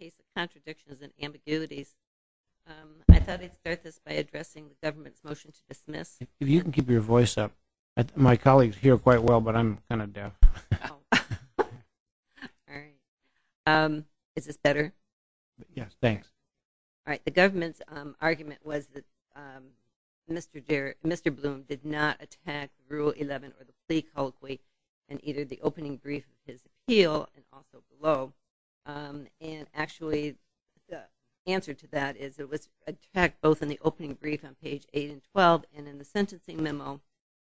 in the case of contradictions and ambiguities. I thought I'd start this by addressing the government's motion to dismiss. If you can keep your voice up. My colleagues hear quite well, but I'm kind of deaf. Oh. All right. Is this better? Yes, thanks. All right. The government's argument was that Mr. Bloom did not attack Rule 11 or the plea colloquy in either the opening brief of his appeal and also below. And actually, the answer to that is it was attacked both in the opening brief on page 8 and 12 and in the sentencing memo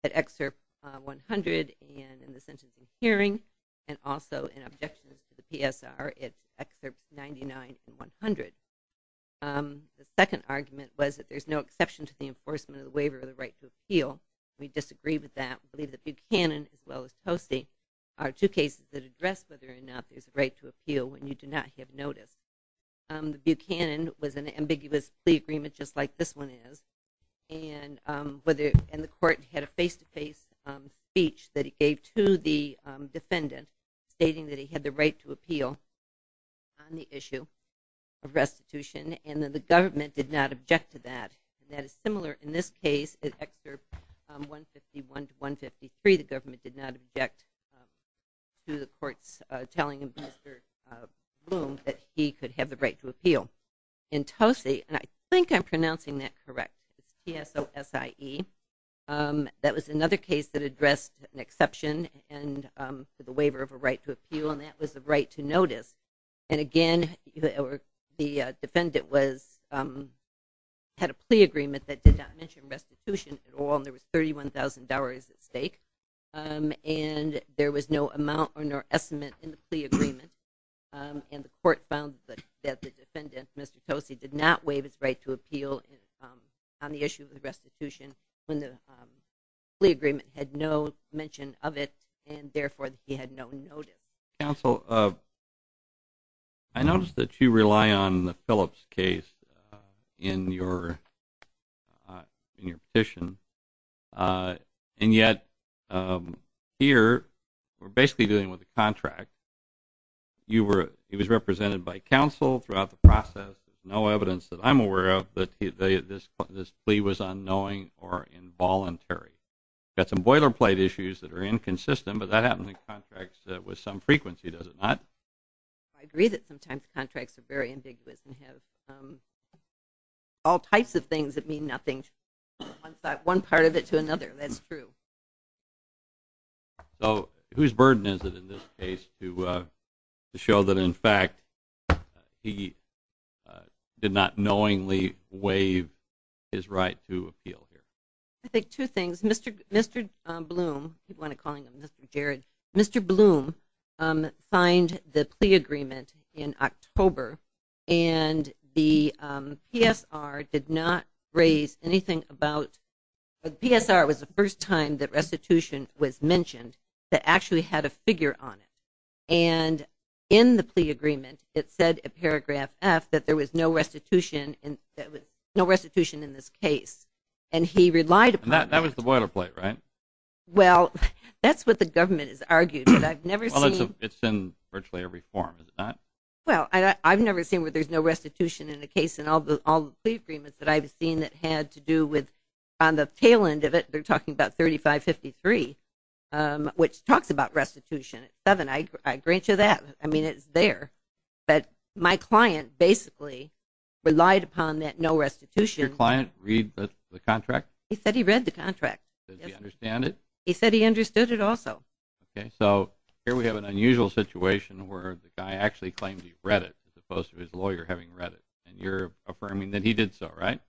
at excerpt 100 and in the sentencing hearing and also in objections to the PSR at excerpt 99 and 100. The second argument was that there's no exception to the enforcement of the waiver of the right to appeal. We disagree with that. We believe that Buchanan as well as Posse are two cases that address whether or not there's a right to appeal when you do not have notice. Buchanan was an ambiguous plea agreement just like this one is, and the court had a face-to-face speech that it gave to the defendant stating that he had the right to appeal on the issue of restitution, and that the government did not object to that. And that is similar in this case at excerpt 151 to 153. The government did not object to the court's telling Mr. Bloom that he could have the right to appeal. In Posse, and I think I'm pronouncing that correct, P-S-O-S-I-E, that was another case that addressed an exception to the waiver of a right to appeal, and that was the right to notice. And again, the defendant had a plea agreement that did not mention restitution at all, and there was $31,000 at stake, and there was no amount or no estimate in the plea agreement. And the court found that the defendant, Mr. Posse, did not waive his right to appeal on the issue of restitution when the plea agreement had no mention of it, and therefore he had no notice. Counsel, I noticed that you rely on the Phillips case in your petition, and yet here we're basically dealing with a contract. He was represented by counsel throughout the process. There's no evidence that I'm aware of that this plea was unknowing or involuntary. We've got some boilerplate issues that are inconsistent, but that happens in contracts with some frequency, does it not? I agree that sometimes contracts are very ambiguous and have all types of things that mean nothing from one part of it to another. That's true. So whose burden is it in this case to show that, in fact, he did not knowingly waive his right to appeal? I think two things. Mr. Bloom, if you want to call him Mr. Jared, Mr. Bloom signed the plea agreement in October, and the PSR did not raise anything about the PSR was the first time that restitution was mentioned that actually had a figure on it. And in the plea agreement, it said in paragraph F that there was no restitution in this case, and he relied upon that. That was the boilerplate, right? Well, that's what the government has argued, but I've never seen... Well, it's in virtually every form, is it not? Well, I've never seen where there's no restitution in the case in all the plea agreements that I've seen that had to do with on the tail end of it, they're talking about 3553, which talks about restitution. It's seven. I agree to that. I mean, it's there. But my client basically relied upon that no restitution. Did your client read the contract? He said he read the contract. Did he understand it? He said he understood it also. Okay, so here we have an unusual situation where the guy actually claimed he read it as opposed to his lawyer having read it, and you're affirming that he did so, right?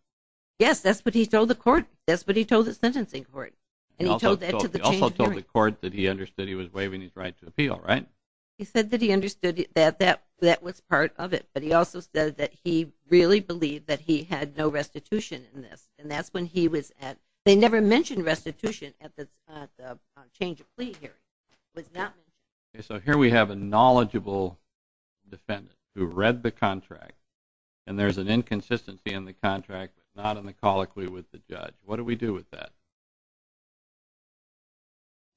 Yes, that's what he told the court. That's what he told the sentencing court, and he told that to the change of hearing. He said that he understood that that was part of it, but he also said that he really believed that he had no restitution in this, and that's when he was at... They never mentioned restitution at the change of plea hearing. Okay, so here we have a knowledgeable defendant who read the contract, and there's an inconsistency in the contract, not in the colloquy with the judge. What do we do with that?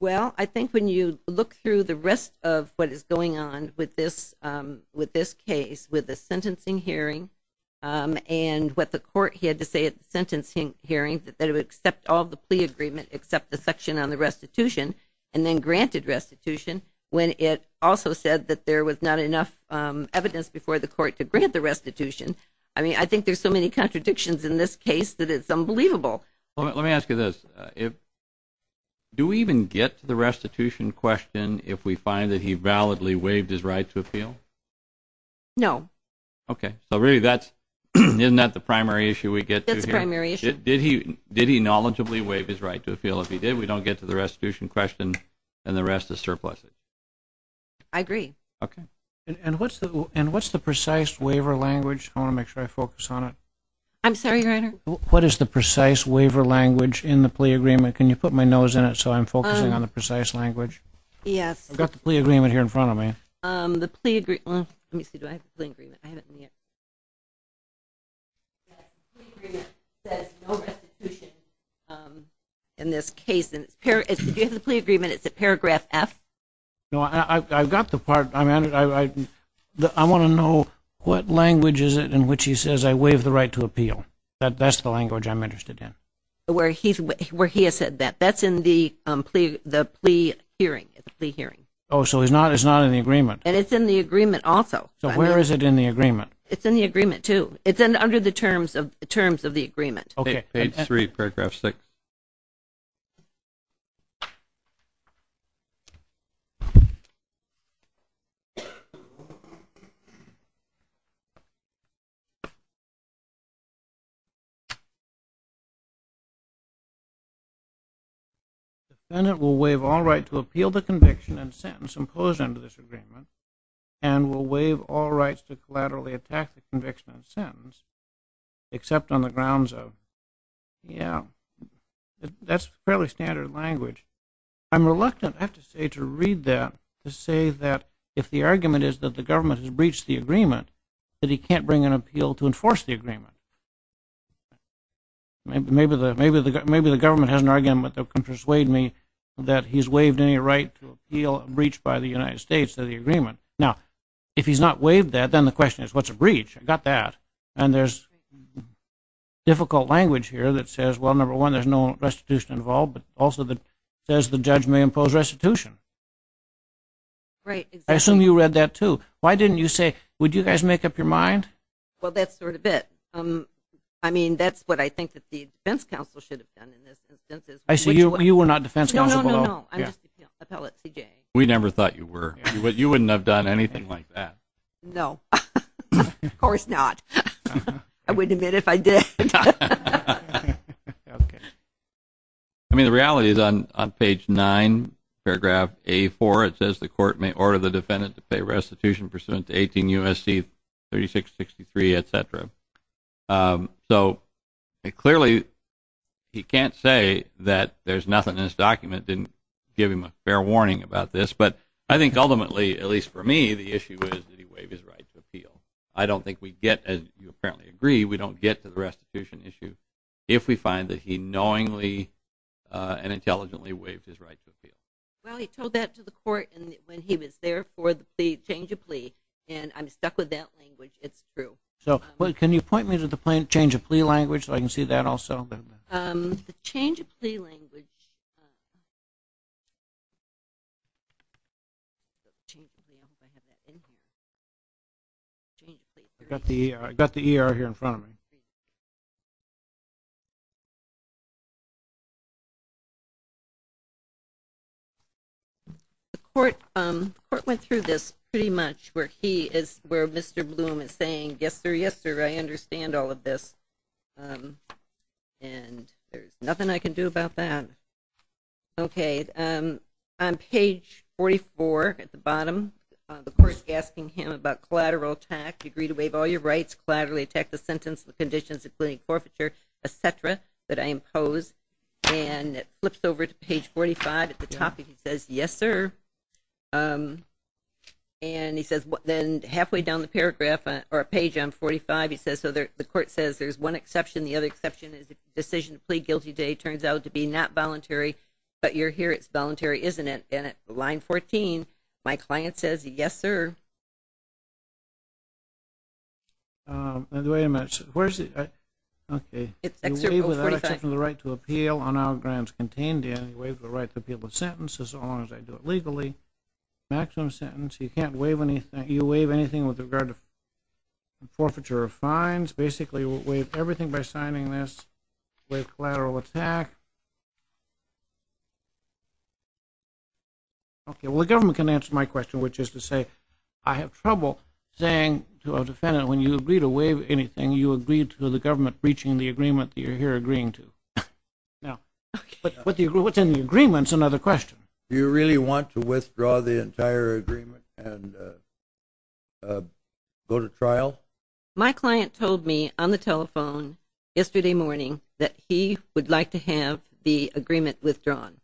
Well, I think when you look through the rest of what is going on with this case, with the sentencing hearing and what the court had to say at the sentencing hearing, that it would accept all the plea agreement except the section on the restitution and then granted restitution when it also said that there was not enough evidence before the court to grant the restitution. I mean, I think there's so many contradictions in this case that it's unbelievable. Let me ask you this. Do we even get to the restitution question if we find that he validly waived his right to appeal? No. Okay. So really, isn't that the primary issue we get to here? That's the primary issue. Did he knowledgeably waive his right to appeal? If he did, we don't get to the restitution question, and the rest is surpluses. I agree. Okay. And what's the precise waiver language? I want to make sure I focus on it. I'm sorry, Reiner. What is the precise waiver language in the plea agreement? Can you put my nose in it so I'm focusing on the precise language? Yes. I've got the plea agreement here in front of me. The plea agreement. Let me see. Do I have the plea agreement? I haven't seen it. The plea agreement says no restitution in this case. If you have the plea agreement, is it paragraph F? No, I've got the part. I want to know what language is it in which he says I waive the right to appeal. That's the language I'm interested in. Where he has said that. That's in the plea hearing. Oh, so it's not in the agreement. And it's in the agreement also. So where is it in the agreement? It's in the agreement, too. It's under the terms of the agreement. Okay. Page 3, paragraph 6. The defendant will waive all right to appeal the conviction and sentence imposed under this agreement and will waive all rights to collaterally attack the conviction and sentence, except on the grounds of. Yeah. That's fairly standard language. I'm reluctant, I have to say, to read that to say that if the argument is that the government has breached the agreement, that he can't bring an appeal to enforce the agreement. Maybe the government has an argument that can persuade me that he's waived any right to appeal a breach by the United States of the agreement. Now, if he's not waived that, then the question is, what's a breach? I've got that. And there's difficult language here that says, well, number one, there's no restitution involved, but also it says the judge may impose restitution. Right. I assume you read that, too. Why didn't you say, would you guys make up your mind? Well, that's sort of it. I mean, that's what I think the defense counsel should have done in this instance. I see. You were not defense counsel at all? No, no, no, no. I'm just an appellate CJ. We never thought you were. No. Of course not. I wouldn't admit it if I did. Okay. I mean, the reality is on page 9, paragraph A4, it says the court may order the defendant to pay restitution pursuant to 18 U.S.C. 3663, etc. So, clearly, he can't say that there's nothing in this document that didn't give him a fair warning about this, but I think ultimately, at least for me, the issue is that he waived his right to appeal. I don't think we get, as you apparently agree, we don't get to the restitution issue if we find that he knowingly and intelligently waived his right to appeal. Well, he told that to the court when he was there for the change of plea, and I'm stuck with that language. It's true. So, can you point me to the change of plea language so I can see that also? The change of plea language. I've got the ER here in front of me. The court went through this pretty much where Mr. Bloom is saying, yes sir, yes sir, I understand all of this, and there's nothing I can do about that. Okay. On page 44 at the bottom, the court is asking him about collateral attack, you agree to waive all your rights, collaterally attack the sentence, the conditions, including forfeiture, etc., that I impose, and it flips over to page 45 at the top, and he says, yes sir. And he says, then halfway down the paragraph, or page on 45, he says, so the court says there's one exception, the other exception is if the decision to plead guilty today turns out to be not voluntary, but you're here, it's voluntary, isn't it? And at line 14, my client says, yes sir. Wait a minute. Where is it? Okay. You waive the right to appeal on all grounds contained in, you waive the right to appeal the sentence as long as I do it legally, maximum sentence. You can't waive anything. You waive anything with regard to forfeiture or fines. Basically, we'll waive everything by signing this, waive collateral attack. Okay. Well, the government can answer my question, which is to say, I have trouble saying to a defendant, when you agree to waive anything, you agree to the government reaching the agreement that you're here agreeing to. Now, what's in the agreement is another question. Well, my client told me on the telephone yesterday morning that he would like to have the agreement withdrawn.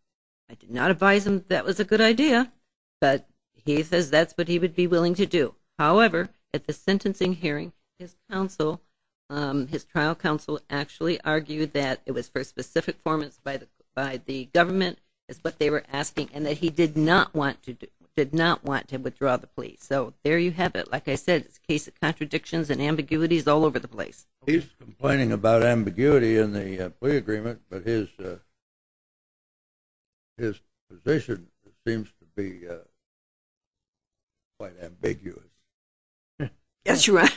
I did not advise him that was a good idea, but he says that's what he would be willing to do. However, at the sentencing hearing, his trial counsel actually argued that it was for specific performance by the government is what they were asking, and that he did not want to withdraw the plea. So there you have it. Like I said, it's a case of contradictions and ambiguities all over the place. He's complaining about ambiguity in the plea agreement, but his position seems to be quite ambiguous. Yes, you are.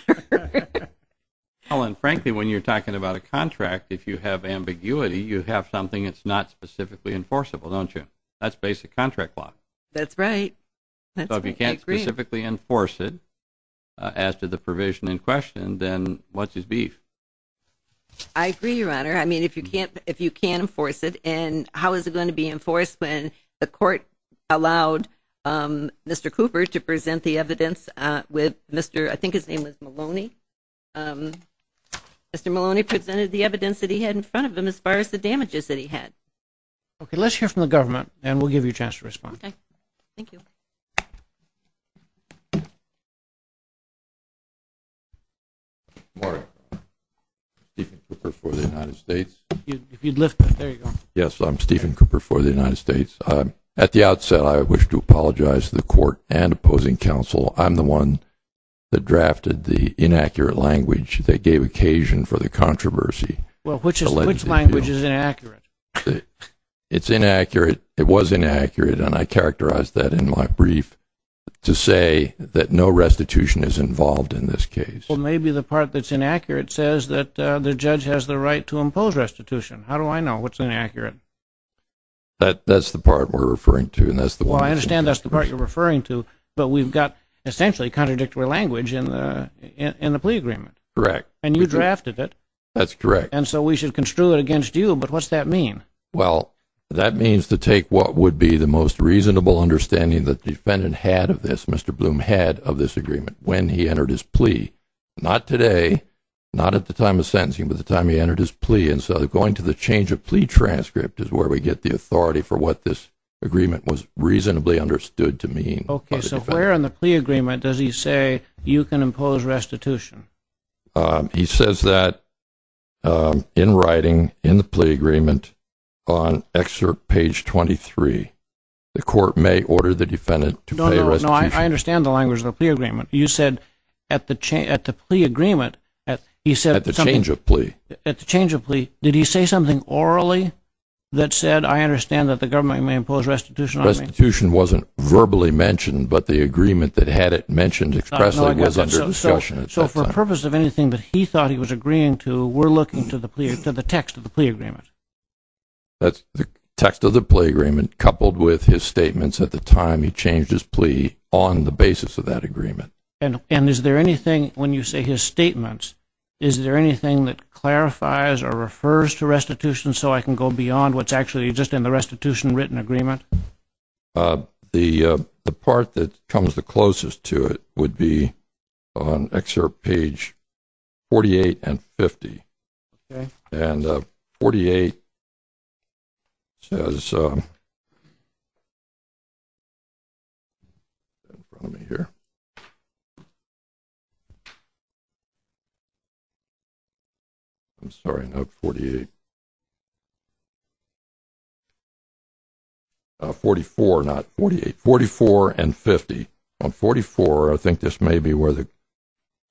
Helen, frankly, when you're talking about a contract, if you have ambiguity, you have something that's not specifically enforceable, don't you? That's basic contract law. That's right. So if you can't specifically enforce it as to the provision in question, then what's his beef? I agree, Your Honor. I mean, if you can't enforce it, and how is it going to be enforced when the court allowed Mr. Cooper to present the evidence with Mr. I think his name was Maloney. Mr. Maloney presented the evidence that he had in front of him as far as the damages that he had. Okay, let's hear from the government, and we'll give you a chance to respond. Okay. Thank you. Good morning. Stephen Cooper for the United States. If you'd lift it, there you go. Yes, I'm Stephen Cooper for the United States. At the outset, I wish to apologize to the court and opposing counsel. I'm the one that drafted the inaccurate language that gave occasion for the controversy. Well, which language is inaccurate? It's inaccurate. It was inaccurate, and I characterized that in my brief to say that no restitution is involved in this case. Well, maybe the part that's inaccurate says that the judge has the right to impose restitution. How do I know what's inaccurate? That's the part we're referring to, and that's the one that's inaccurate. Well, I understand that's the part you're referring to, but we've got essentially contradictory language in the plea agreement. Correct. And you drafted it. That's correct. And so we should construe it against you, but what's that mean? Well, that means to take what would be the most reasonable understanding that the defendant had of this, Mr. Bloom had of this agreement when he entered his plea. Not today, not at the time of sentencing, but the time he entered his plea. And so going to the change of plea transcript is where we get the authority for what this agreement was reasonably understood to mean. Okay. So where in the plea agreement does he say you can impose restitution? He says that in writing, in the plea agreement, on excerpt page 23, the court may order the defendant to pay restitution. No, no, I understand the language of the plea agreement. You said at the plea agreement, he said something. At the change of plea. At the change of plea, did he say something orally that said, I understand that the government may impose restitution on me? Restitution wasn't verbally mentioned, but the agreement that had it mentioned expressly was under discussion at that time. So for the purpose of anything that he thought he was agreeing to, we're looking to the text of the plea agreement. That's the text of the plea agreement coupled with his statements at the time he changed his plea on the basis of that agreement. And is there anything, when you say his statements, is there anything that clarifies or refers to restitution so I can go beyond what's actually just in the restitution written agreement? The part that comes the closest to it would be on excerpt page 48 and 50. Okay. And 48 says, let me hear. I'm sorry, not 48. 44 and 50. On 44, I think this may be where the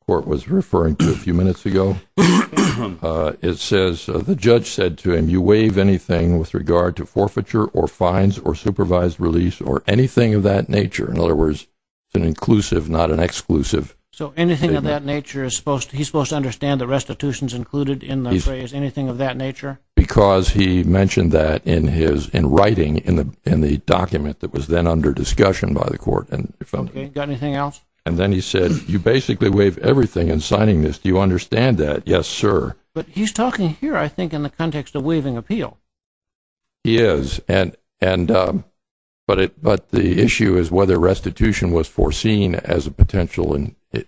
court was referring to a few minutes ago. It says, the judge said to him, you waive anything with regard to forfeiture or fines or supervised release or anything of that nature. In other words, it's an inclusive, not an exclusive. So anything of that nature, he's supposed to understand the restitution's included in the phrase, anything of that nature? Because he mentioned that in writing in the document that was then under discussion by the court. Okay. Got anything else? And then he said, you basically waive everything in signing this. Do you understand that? Yes, sir. But he's talking here, I think, in the context of waiving appeal. He is. But the issue is whether restitution was foreseen as a potential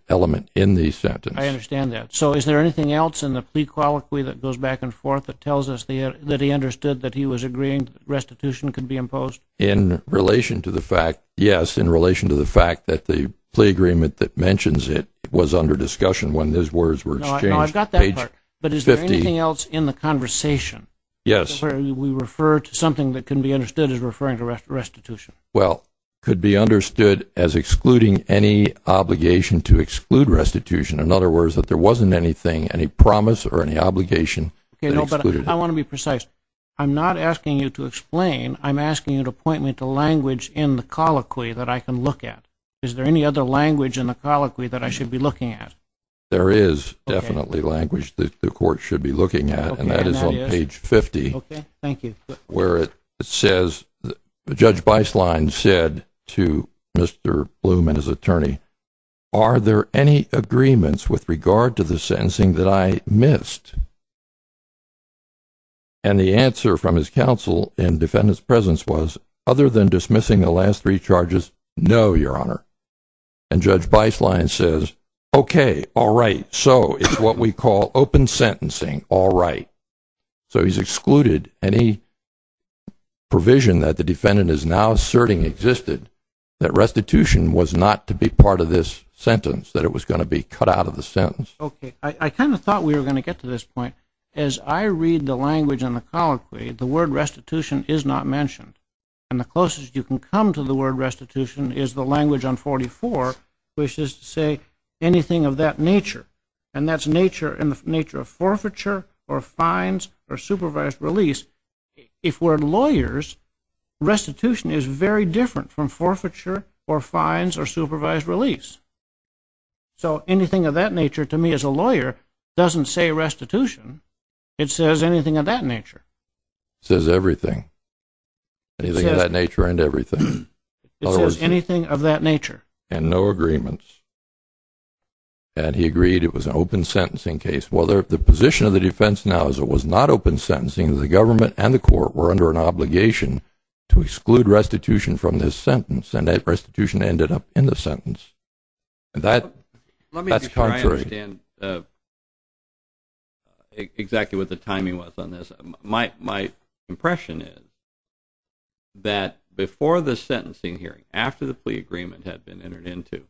element in the sentence. I understand that. So is there anything else in the plea colloquy that goes back and forth that tells us that he understood that he was agreeing restitution could be imposed? In relation to the fact, yes, in relation to the fact that the plea agreement that mentions it was under discussion when those words were exchanged. No, I've got that part. Page 50. But is there anything else in the conversation where we refer to something that can be understood as referring to restitution? Well, could be understood as excluding any obligation to exclude restitution. In other words, that there wasn't anything, any promise or any obligation that excluded it. I want to be precise. I'm not asking you to explain. I'm asking you to point me to language in the colloquy that I can look at. Is there any other language in the colloquy that I should be looking at? There is definitely language that the court should be looking at, and that is on page 50. Okay. Thank you. Where it says Judge Beislein said to Mr. Blum and his attorney, are there any agreements with regard to the sentencing that I missed? And the answer from his counsel in defendant's presence was, other than dismissing the last three charges, no, Your Honor. And Judge Beislein says, okay, all right. So it's what we call open sentencing. All right. So he's excluded any provision that the defendant is now asserting existed, that restitution was not to be part of this sentence, that it was going to be cut out of the sentence. Okay. I kind of thought we were going to get to this point. As I read the language in the colloquy, the word restitution is not mentioned. And the closest you can come to the word restitution is the language on 44, which is to say anything of that nature. And that's nature in the nature of forfeiture or fines or supervised release. If we're lawyers, restitution is very different from forfeiture or fines or supervised release. So anything of that nature to me as a lawyer doesn't say restitution. It says anything of that nature. It says everything. Anything of that nature and everything. It says anything of that nature. And no agreements. And he agreed it was an open sentencing case. Whether the position of the defense now is it was not open sentencing, the government and the court were under an obligation to exclude restitution from this sentence, and that restitution ended up in the sentence. That's contrary. Let me try to understand exactly what the timing was on this. My impression is that before the sentencing hearing, after the plea agreement had been entered into,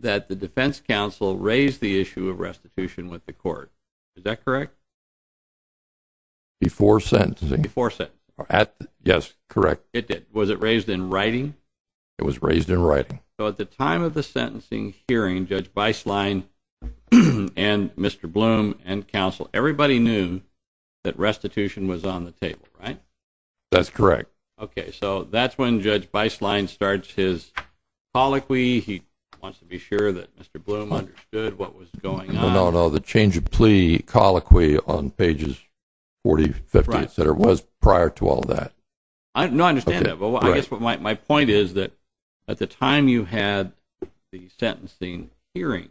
that the defense counsel raised the issue of restitution with the court. Is that correct? Before sentencing. Before sentencing. Yes, correct. It did. Was it raised in writing? It was raised in writing. So at the time of the sentencing hearing, Judge Beislein and Mr. Bloom and counsel, everybody knew that restitution was on the table, right? That's correct. Okay, so that's when Judge Beislein starts his colloquy. He wants to be sure that Mr. Bloom understood what was going on. No, no, the change of plea colloquy on pages 40, 50, et cetera, was prior to all that. No, I understand that. My point is that at the time you had the sentencing hearing,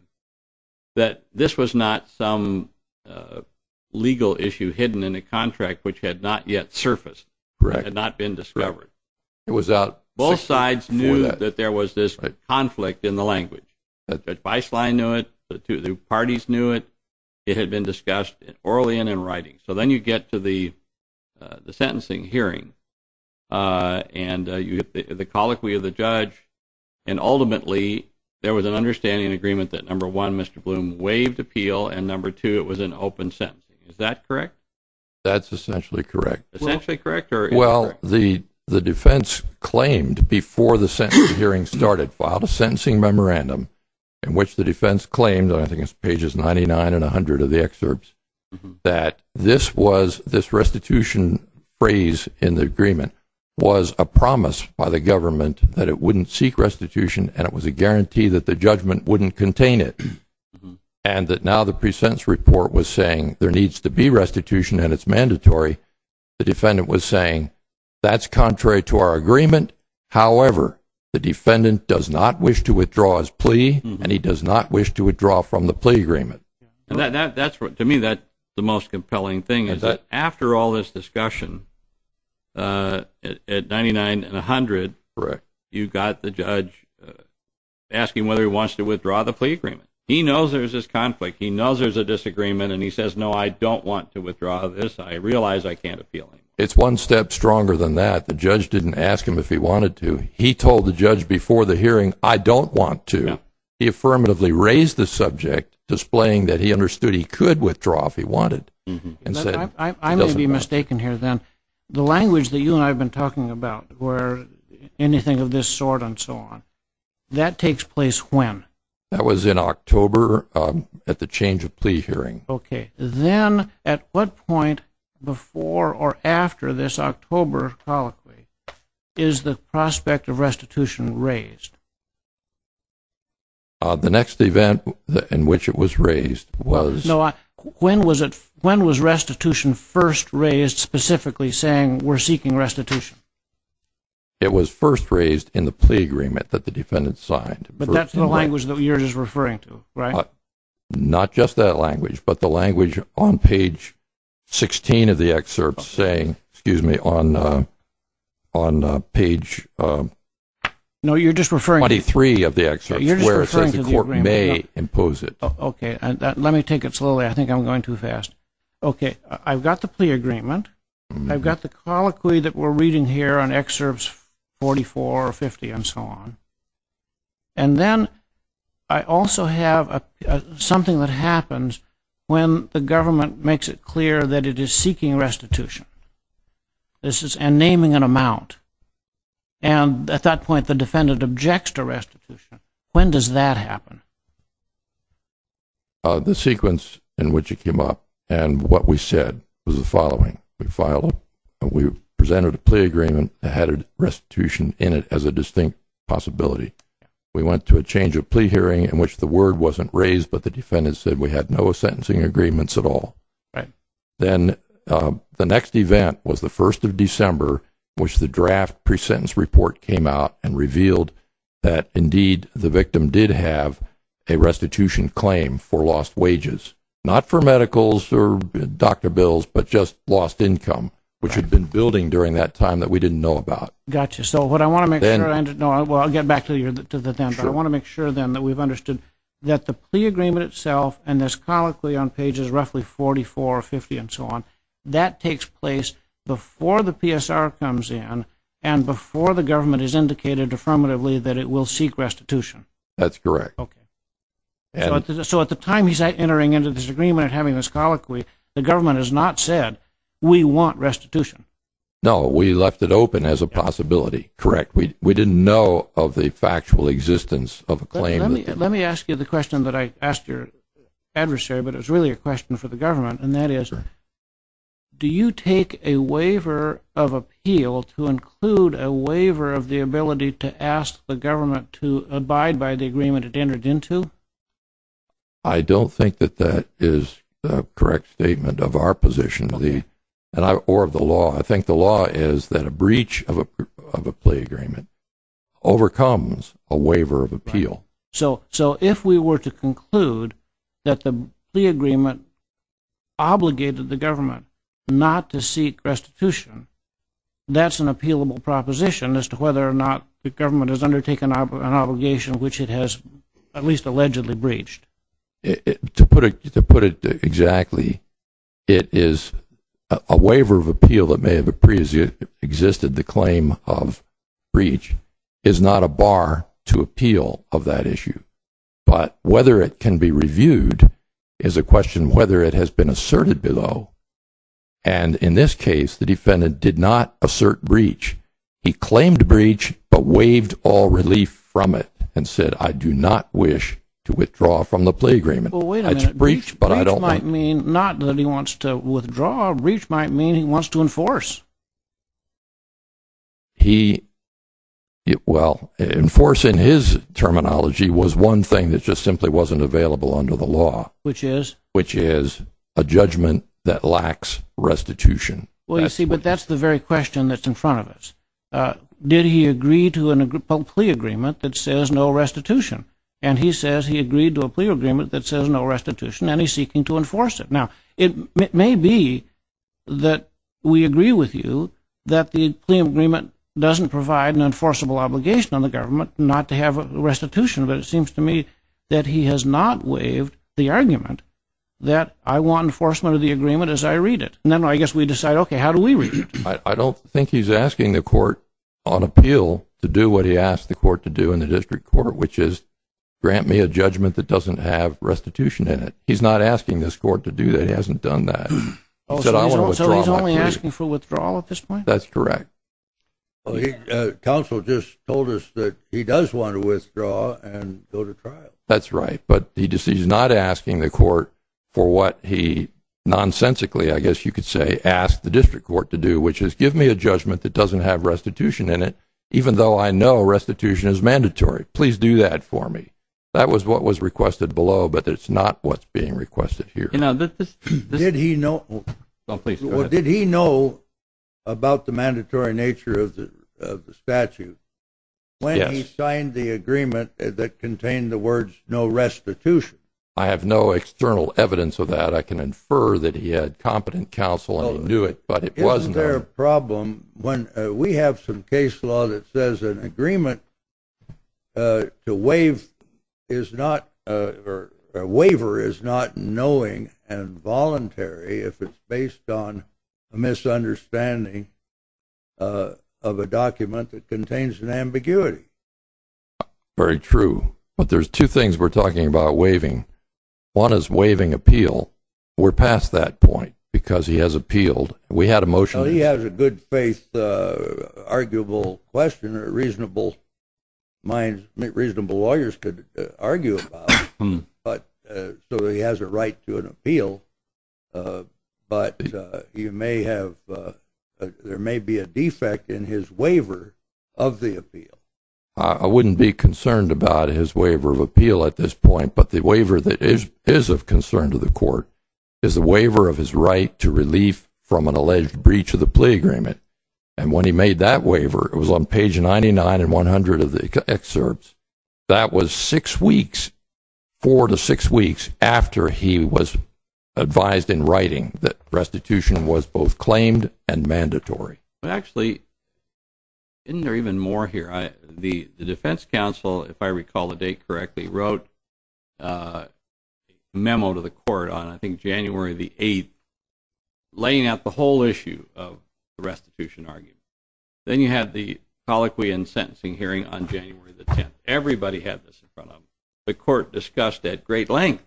that this was not some legal issue hidden in a contract which had not yet surfaced. Correct. It had not been discovered. It was out before that. Both sides knew that there was this conflict in the language. Judge Beislein knew it. The parties knew it. It had been discussed orally and in writing. So then you get to the sentencing hearing, and you get the colloquy of the judge, and ultimately there was an understanding and agreement that, number one, Mr. Bloom waived appeal, and, number two, it was an open sentence. Is that correct? That's essentially correct. Essentially correct? Well, the defense claimed before the sentencing hearing started, filed a sentencing memorandum in which the defense claimed, and I think it's pages 99 and 100 of the excerpts, that this restitution phrase in the agreement was a promise by the government that it wouldn't seek restitution and it was a guarantee that the judgment wouldn't contain it, and that now the pre-sentence report was saying there needs to be restitution and it's mandatory. The defendant was saying that's contrary to our agreement. However, the defendant does not wish to withdraw his plea, and he does not wish to withdraw from the plea agreement. To me, that's the most compelling thing, is that after all this discussion, at 99 and 100, you've got the judge asking whether he wants to withdraw the plea agreement. He knows there's this conflict. He knows there's a disagreement, and he says, no, I don't want to withdraw this. I realize I can't appeal. It's one step stronger than that. The judge didn't ask him if he wanted to. He told the judge before the hearing, I don't want to. He affirmatively raised the subject, displaying that he understood he could withdraw if he wanted. I may be mistaken here, then. The language that you and I have been talking about, where anything of this sort and so on, that takes place when? That was in October at the change of plea hearing. Okay. Then at what point before or after this October colloquy is the prospect of restitution raised? The next event in which it was raised was... No, when was restitution first raised, specifically saying we're seeking restitution? It was first raised in the plea agreement that the defendant signed. But that's the language that you're just referring to, right? Not just that language, but the language on page 16 of the excerpt, saying, excuse me, on page 23 of the excerpt, where it says the court may impose it. Let me take it slowly. I think I'm going too fast. Okay, I've got the plea agreement. I've got the colloquy that we're reading here on excerpts 44, 50, and so on. And then I also have something that happens when the government makes it clear that it is seeking restitution and naming an amount, and at that point the defendant objects to restitution. When does that happen? The sequence in which it came up and what we said was the following. We filed it, and we presented a plea agreement that had restitution in it as a distinct possibility. We went to a change of plea hearing in which the word wasn't raised, but the defendant said we had no sentencing agreements at all. Then the next event was the 1st of December, which the draft pre-sentence report came out and revealed that indeed the victim did have a restitution claim for lost wages, not for medicals or doctor bills, but just lost income, which had been building during that time that we didn't know about. Gotcha, so what I want to make sure, and I'll get back to the defendant, but I want to make sure then that we've understood that the plea agreement itself and this colloquy on pages roughly 44, 50, and so on, that takes place before the PSR comes in and before the government has indicated affirmatively that it will seek restitution. That's correct. So at the time he's entering into this agreement and having this colloquy, the government has not said we want restitution. No, we left it open as a possibility. Correct. We didn't know of the factual existence of a claim. Let me ask you the question that I asked your adversary, but it was really a question for the government, and that is do you take a waiver of appeal to include a waiver of the ability to ask the government to abide by the agreement it entered into? I don't think that that is the correct statement of our position or of the law. I think the law is that a breach of a plea agreement overcomes a waiver of appeal. So if we were to conclude that the plea agreement obligated the government not to seek restitution, that's an appealable proposition as to whether or not the government has undertaken an obligation which it has at least allegedly breached. To put it exactly, it is a waiver of appeal that may have existed. The claim of breach is not a bar to appeal of that issue. But whether it can be reviewed is a question whether it has been asserted below. And in this case, the defendant did not assert breach. He claimed breach but waived all relief from it and said, I do not wish to withdraw from the plea agreement. Well, wait a minute. It's breach, but I don't think. Breach might mean not that he wants to withdraw. Breach might mean he wants to enforce. He, well, enforcing his terminology was one thing that just simply wasn't available under the law. Which is? Which is a judgment that lacks restitution. Well, you see, but that's the very question that's in front of us. Did he agree to a plea agreement that says no restitution? And he says he agreed to a plea agreement that says no restitution, and he's seeking to enforce it. Now, it may be that we agree with you that the plea agreement doesn't provide an enforceable obligation on the government not to have restitution, but it seems to me that he has not waived the argument that I want enforcement of the agreement as I read it. And then I guess we decide, okay, how do we read it? I don't think he's asking the court on appeal to do what he asked the court to do in the district court, which is grant me a judgment that doesn't have restitution in it. He's not asking this court to do that. He hasn't done that. So he's only asking for withdrawal at this point? That's correct. Counsel just told us that he does want to withdraw and go to trial. That's right. But he's not asking the court for what he nonsensically, I guess you could say, asked the district court to do, which is give me a judgment that doesn't have restitution in it, even though I know restitution is mandatory. Please do that for me. That was what was requested below, but it's not what's being requested here. Did he know about the mandatory nature of the statute when he signed the agreement that contained the words no restitution? I have no external evidence of that. I can infer that he had competent counsel and he knew it, but it wasn't. Isn't there a problem when we have some case law that says an agreement to waive is not, or a waiver is not knowing and voluntary if it's based on a misunderstanding of a document that contains an ambiguity. Very true. But there's two things we're talking about waiving. One is waiving appeal. We're past that point because he has appealed. We had a motion. Well, he has a good-faith, arguable question, a reasonable mind, reasonable lawyers could argue about. So he has a right to an appeal, but there may be a defect in his waiver of the appeal. I wouldn't be concerned about his waiver of appeal at this point, but the waiver that is of concern to the court is the waiver of his right to relief from an alleged breach of the plea agreement. And when he made that waiver, it was on page 99 and 100 of the excerpts, that was four to six weeks after he was advised in writing that restitution was both claimed and mandatory. Actually, isn't there even more here? The defense counsel, if I recall the date correctly, wrote a memo to the court on, I think, January the 8th, laying out the whole issue of the restitution argument. Then you had the colloquy and sentencing hearing on January the 10th. Everybody had this in front of them. The court discussed at great length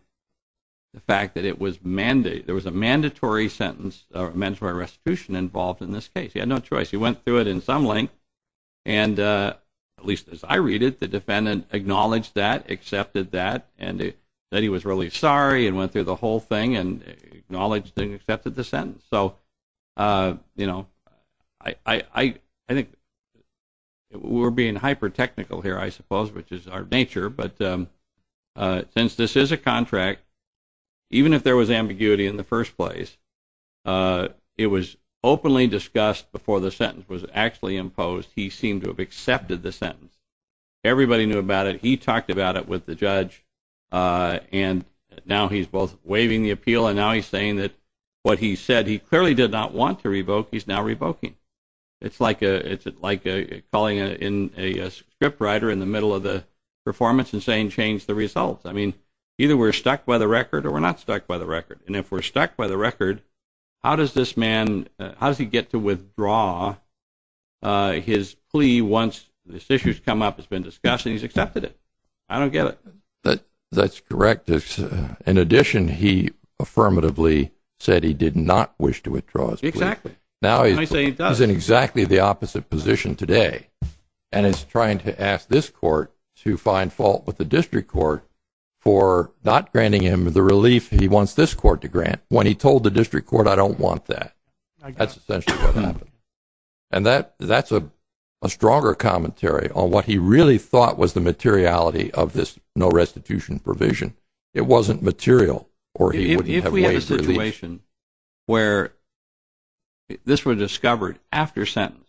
the fact that it was mandated. There was a mandatory sentence or mandatory restitution involved in this case. He had no choice. He went through it in some length, and at least as I read it, the defendant acknowledged that, accepted that, and said he was really sorry and went through the whole thing and acknowledged and accepted the sentence. So, you know, I think we're being hyper-technical here, I suppose, which is our nature, but since this is a contract, even if there was ambiguity in the first place, it was openly discussed before the sentence was actually imposed. He seemed to have accepted the sentence. Everybody knew about it. He talked about it with the judge, and now he's both waiving the appeal and now he's saying that what he said he clearly did not want to revoke, he's now revoking. It's like calling in a script writer in the middle of the performance and saying, change the results. I mean, either we're stuck by the record or we're not stuck by the record. And if we're stuck by the record, how does this man, how does he get to withdraw his plea once this issue has come up, it's been discussed, and he's accepted it? I don't get it. That's correct. In addition, he affirmatively said he did not wish to withdraw his plea. Exactly. Now he's in exactly the opposite position today and is trying to ask this court to find fault with the district court for not granting him the relief he wants this court to grant when he told the district court, I don't want that. That's essentially what happened. And that's a stronger commentary on what he really thought was the materiality of this no restitution provision. It wasn't material or he wouldn't have waived relief. If we had a situation where this were discovered after sentence,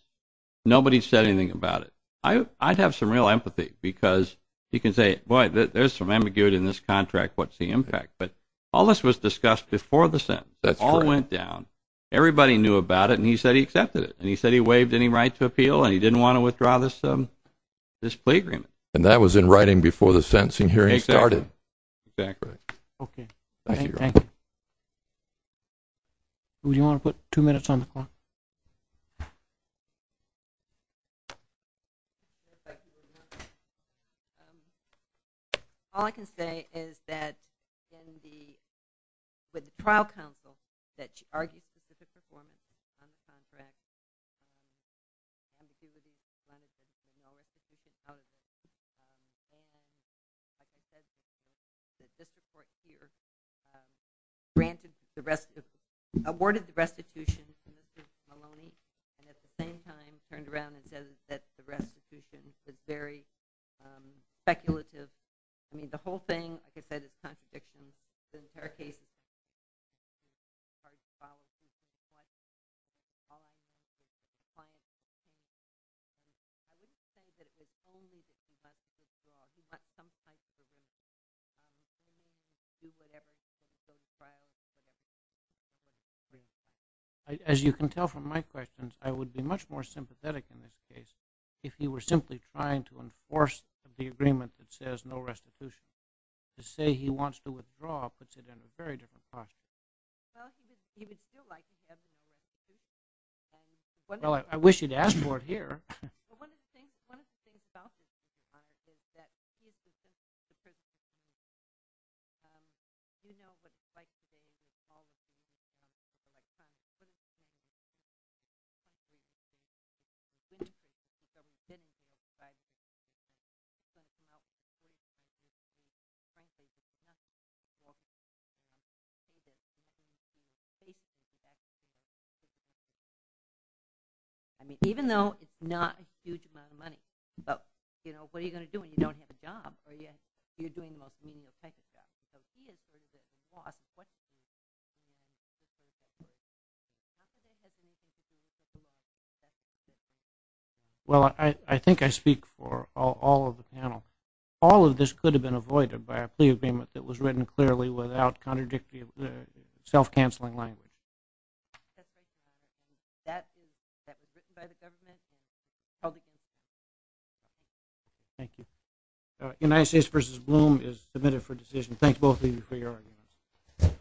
nobody said anything about it, I'd have some real empathy because you can say, boy, there's some ambiguity in this contract. What's the impact? But all this was discussed before the sentence. It all went down. Everybody knew about it, and he said he accepted it, and he said he waived any right to appeal and he didn't want to withdraw this plea agreement. And that was in writing before the sentencing hearing started. Exactly. Okay. Thank you. Who do you want to put? Two minutes on the clock. Thank you very much. All I can say is that with the trial counsel that argued for the performance of the contract, the district court awarded the restitution to Mr. Maloney, and at the same time turned around and said that the restitution was very speculative. I mean, the whole thing, like I said, is a contradiction. As you can tell from my questions, I would be much more sympathetic in this case if he were simply trying to enforce the agreement that says no restitution. To say he wants to withdraw puts it in a very different pocket. Well, I wish he'd asked for it here. I mean, even though it's not a huge amount of money, but what are you going to do when you don't have a job or you're doing the most meaningful type of job? Because he is just going to cost. Well, I think I speak for all of the panel. All of this could have been avoided. It could have been avoided by a plea agreement that was written clearly without contradictory self-canceling language. Thank you. United States v. Bloom is submitted for decision. Thanks both of you for your argument.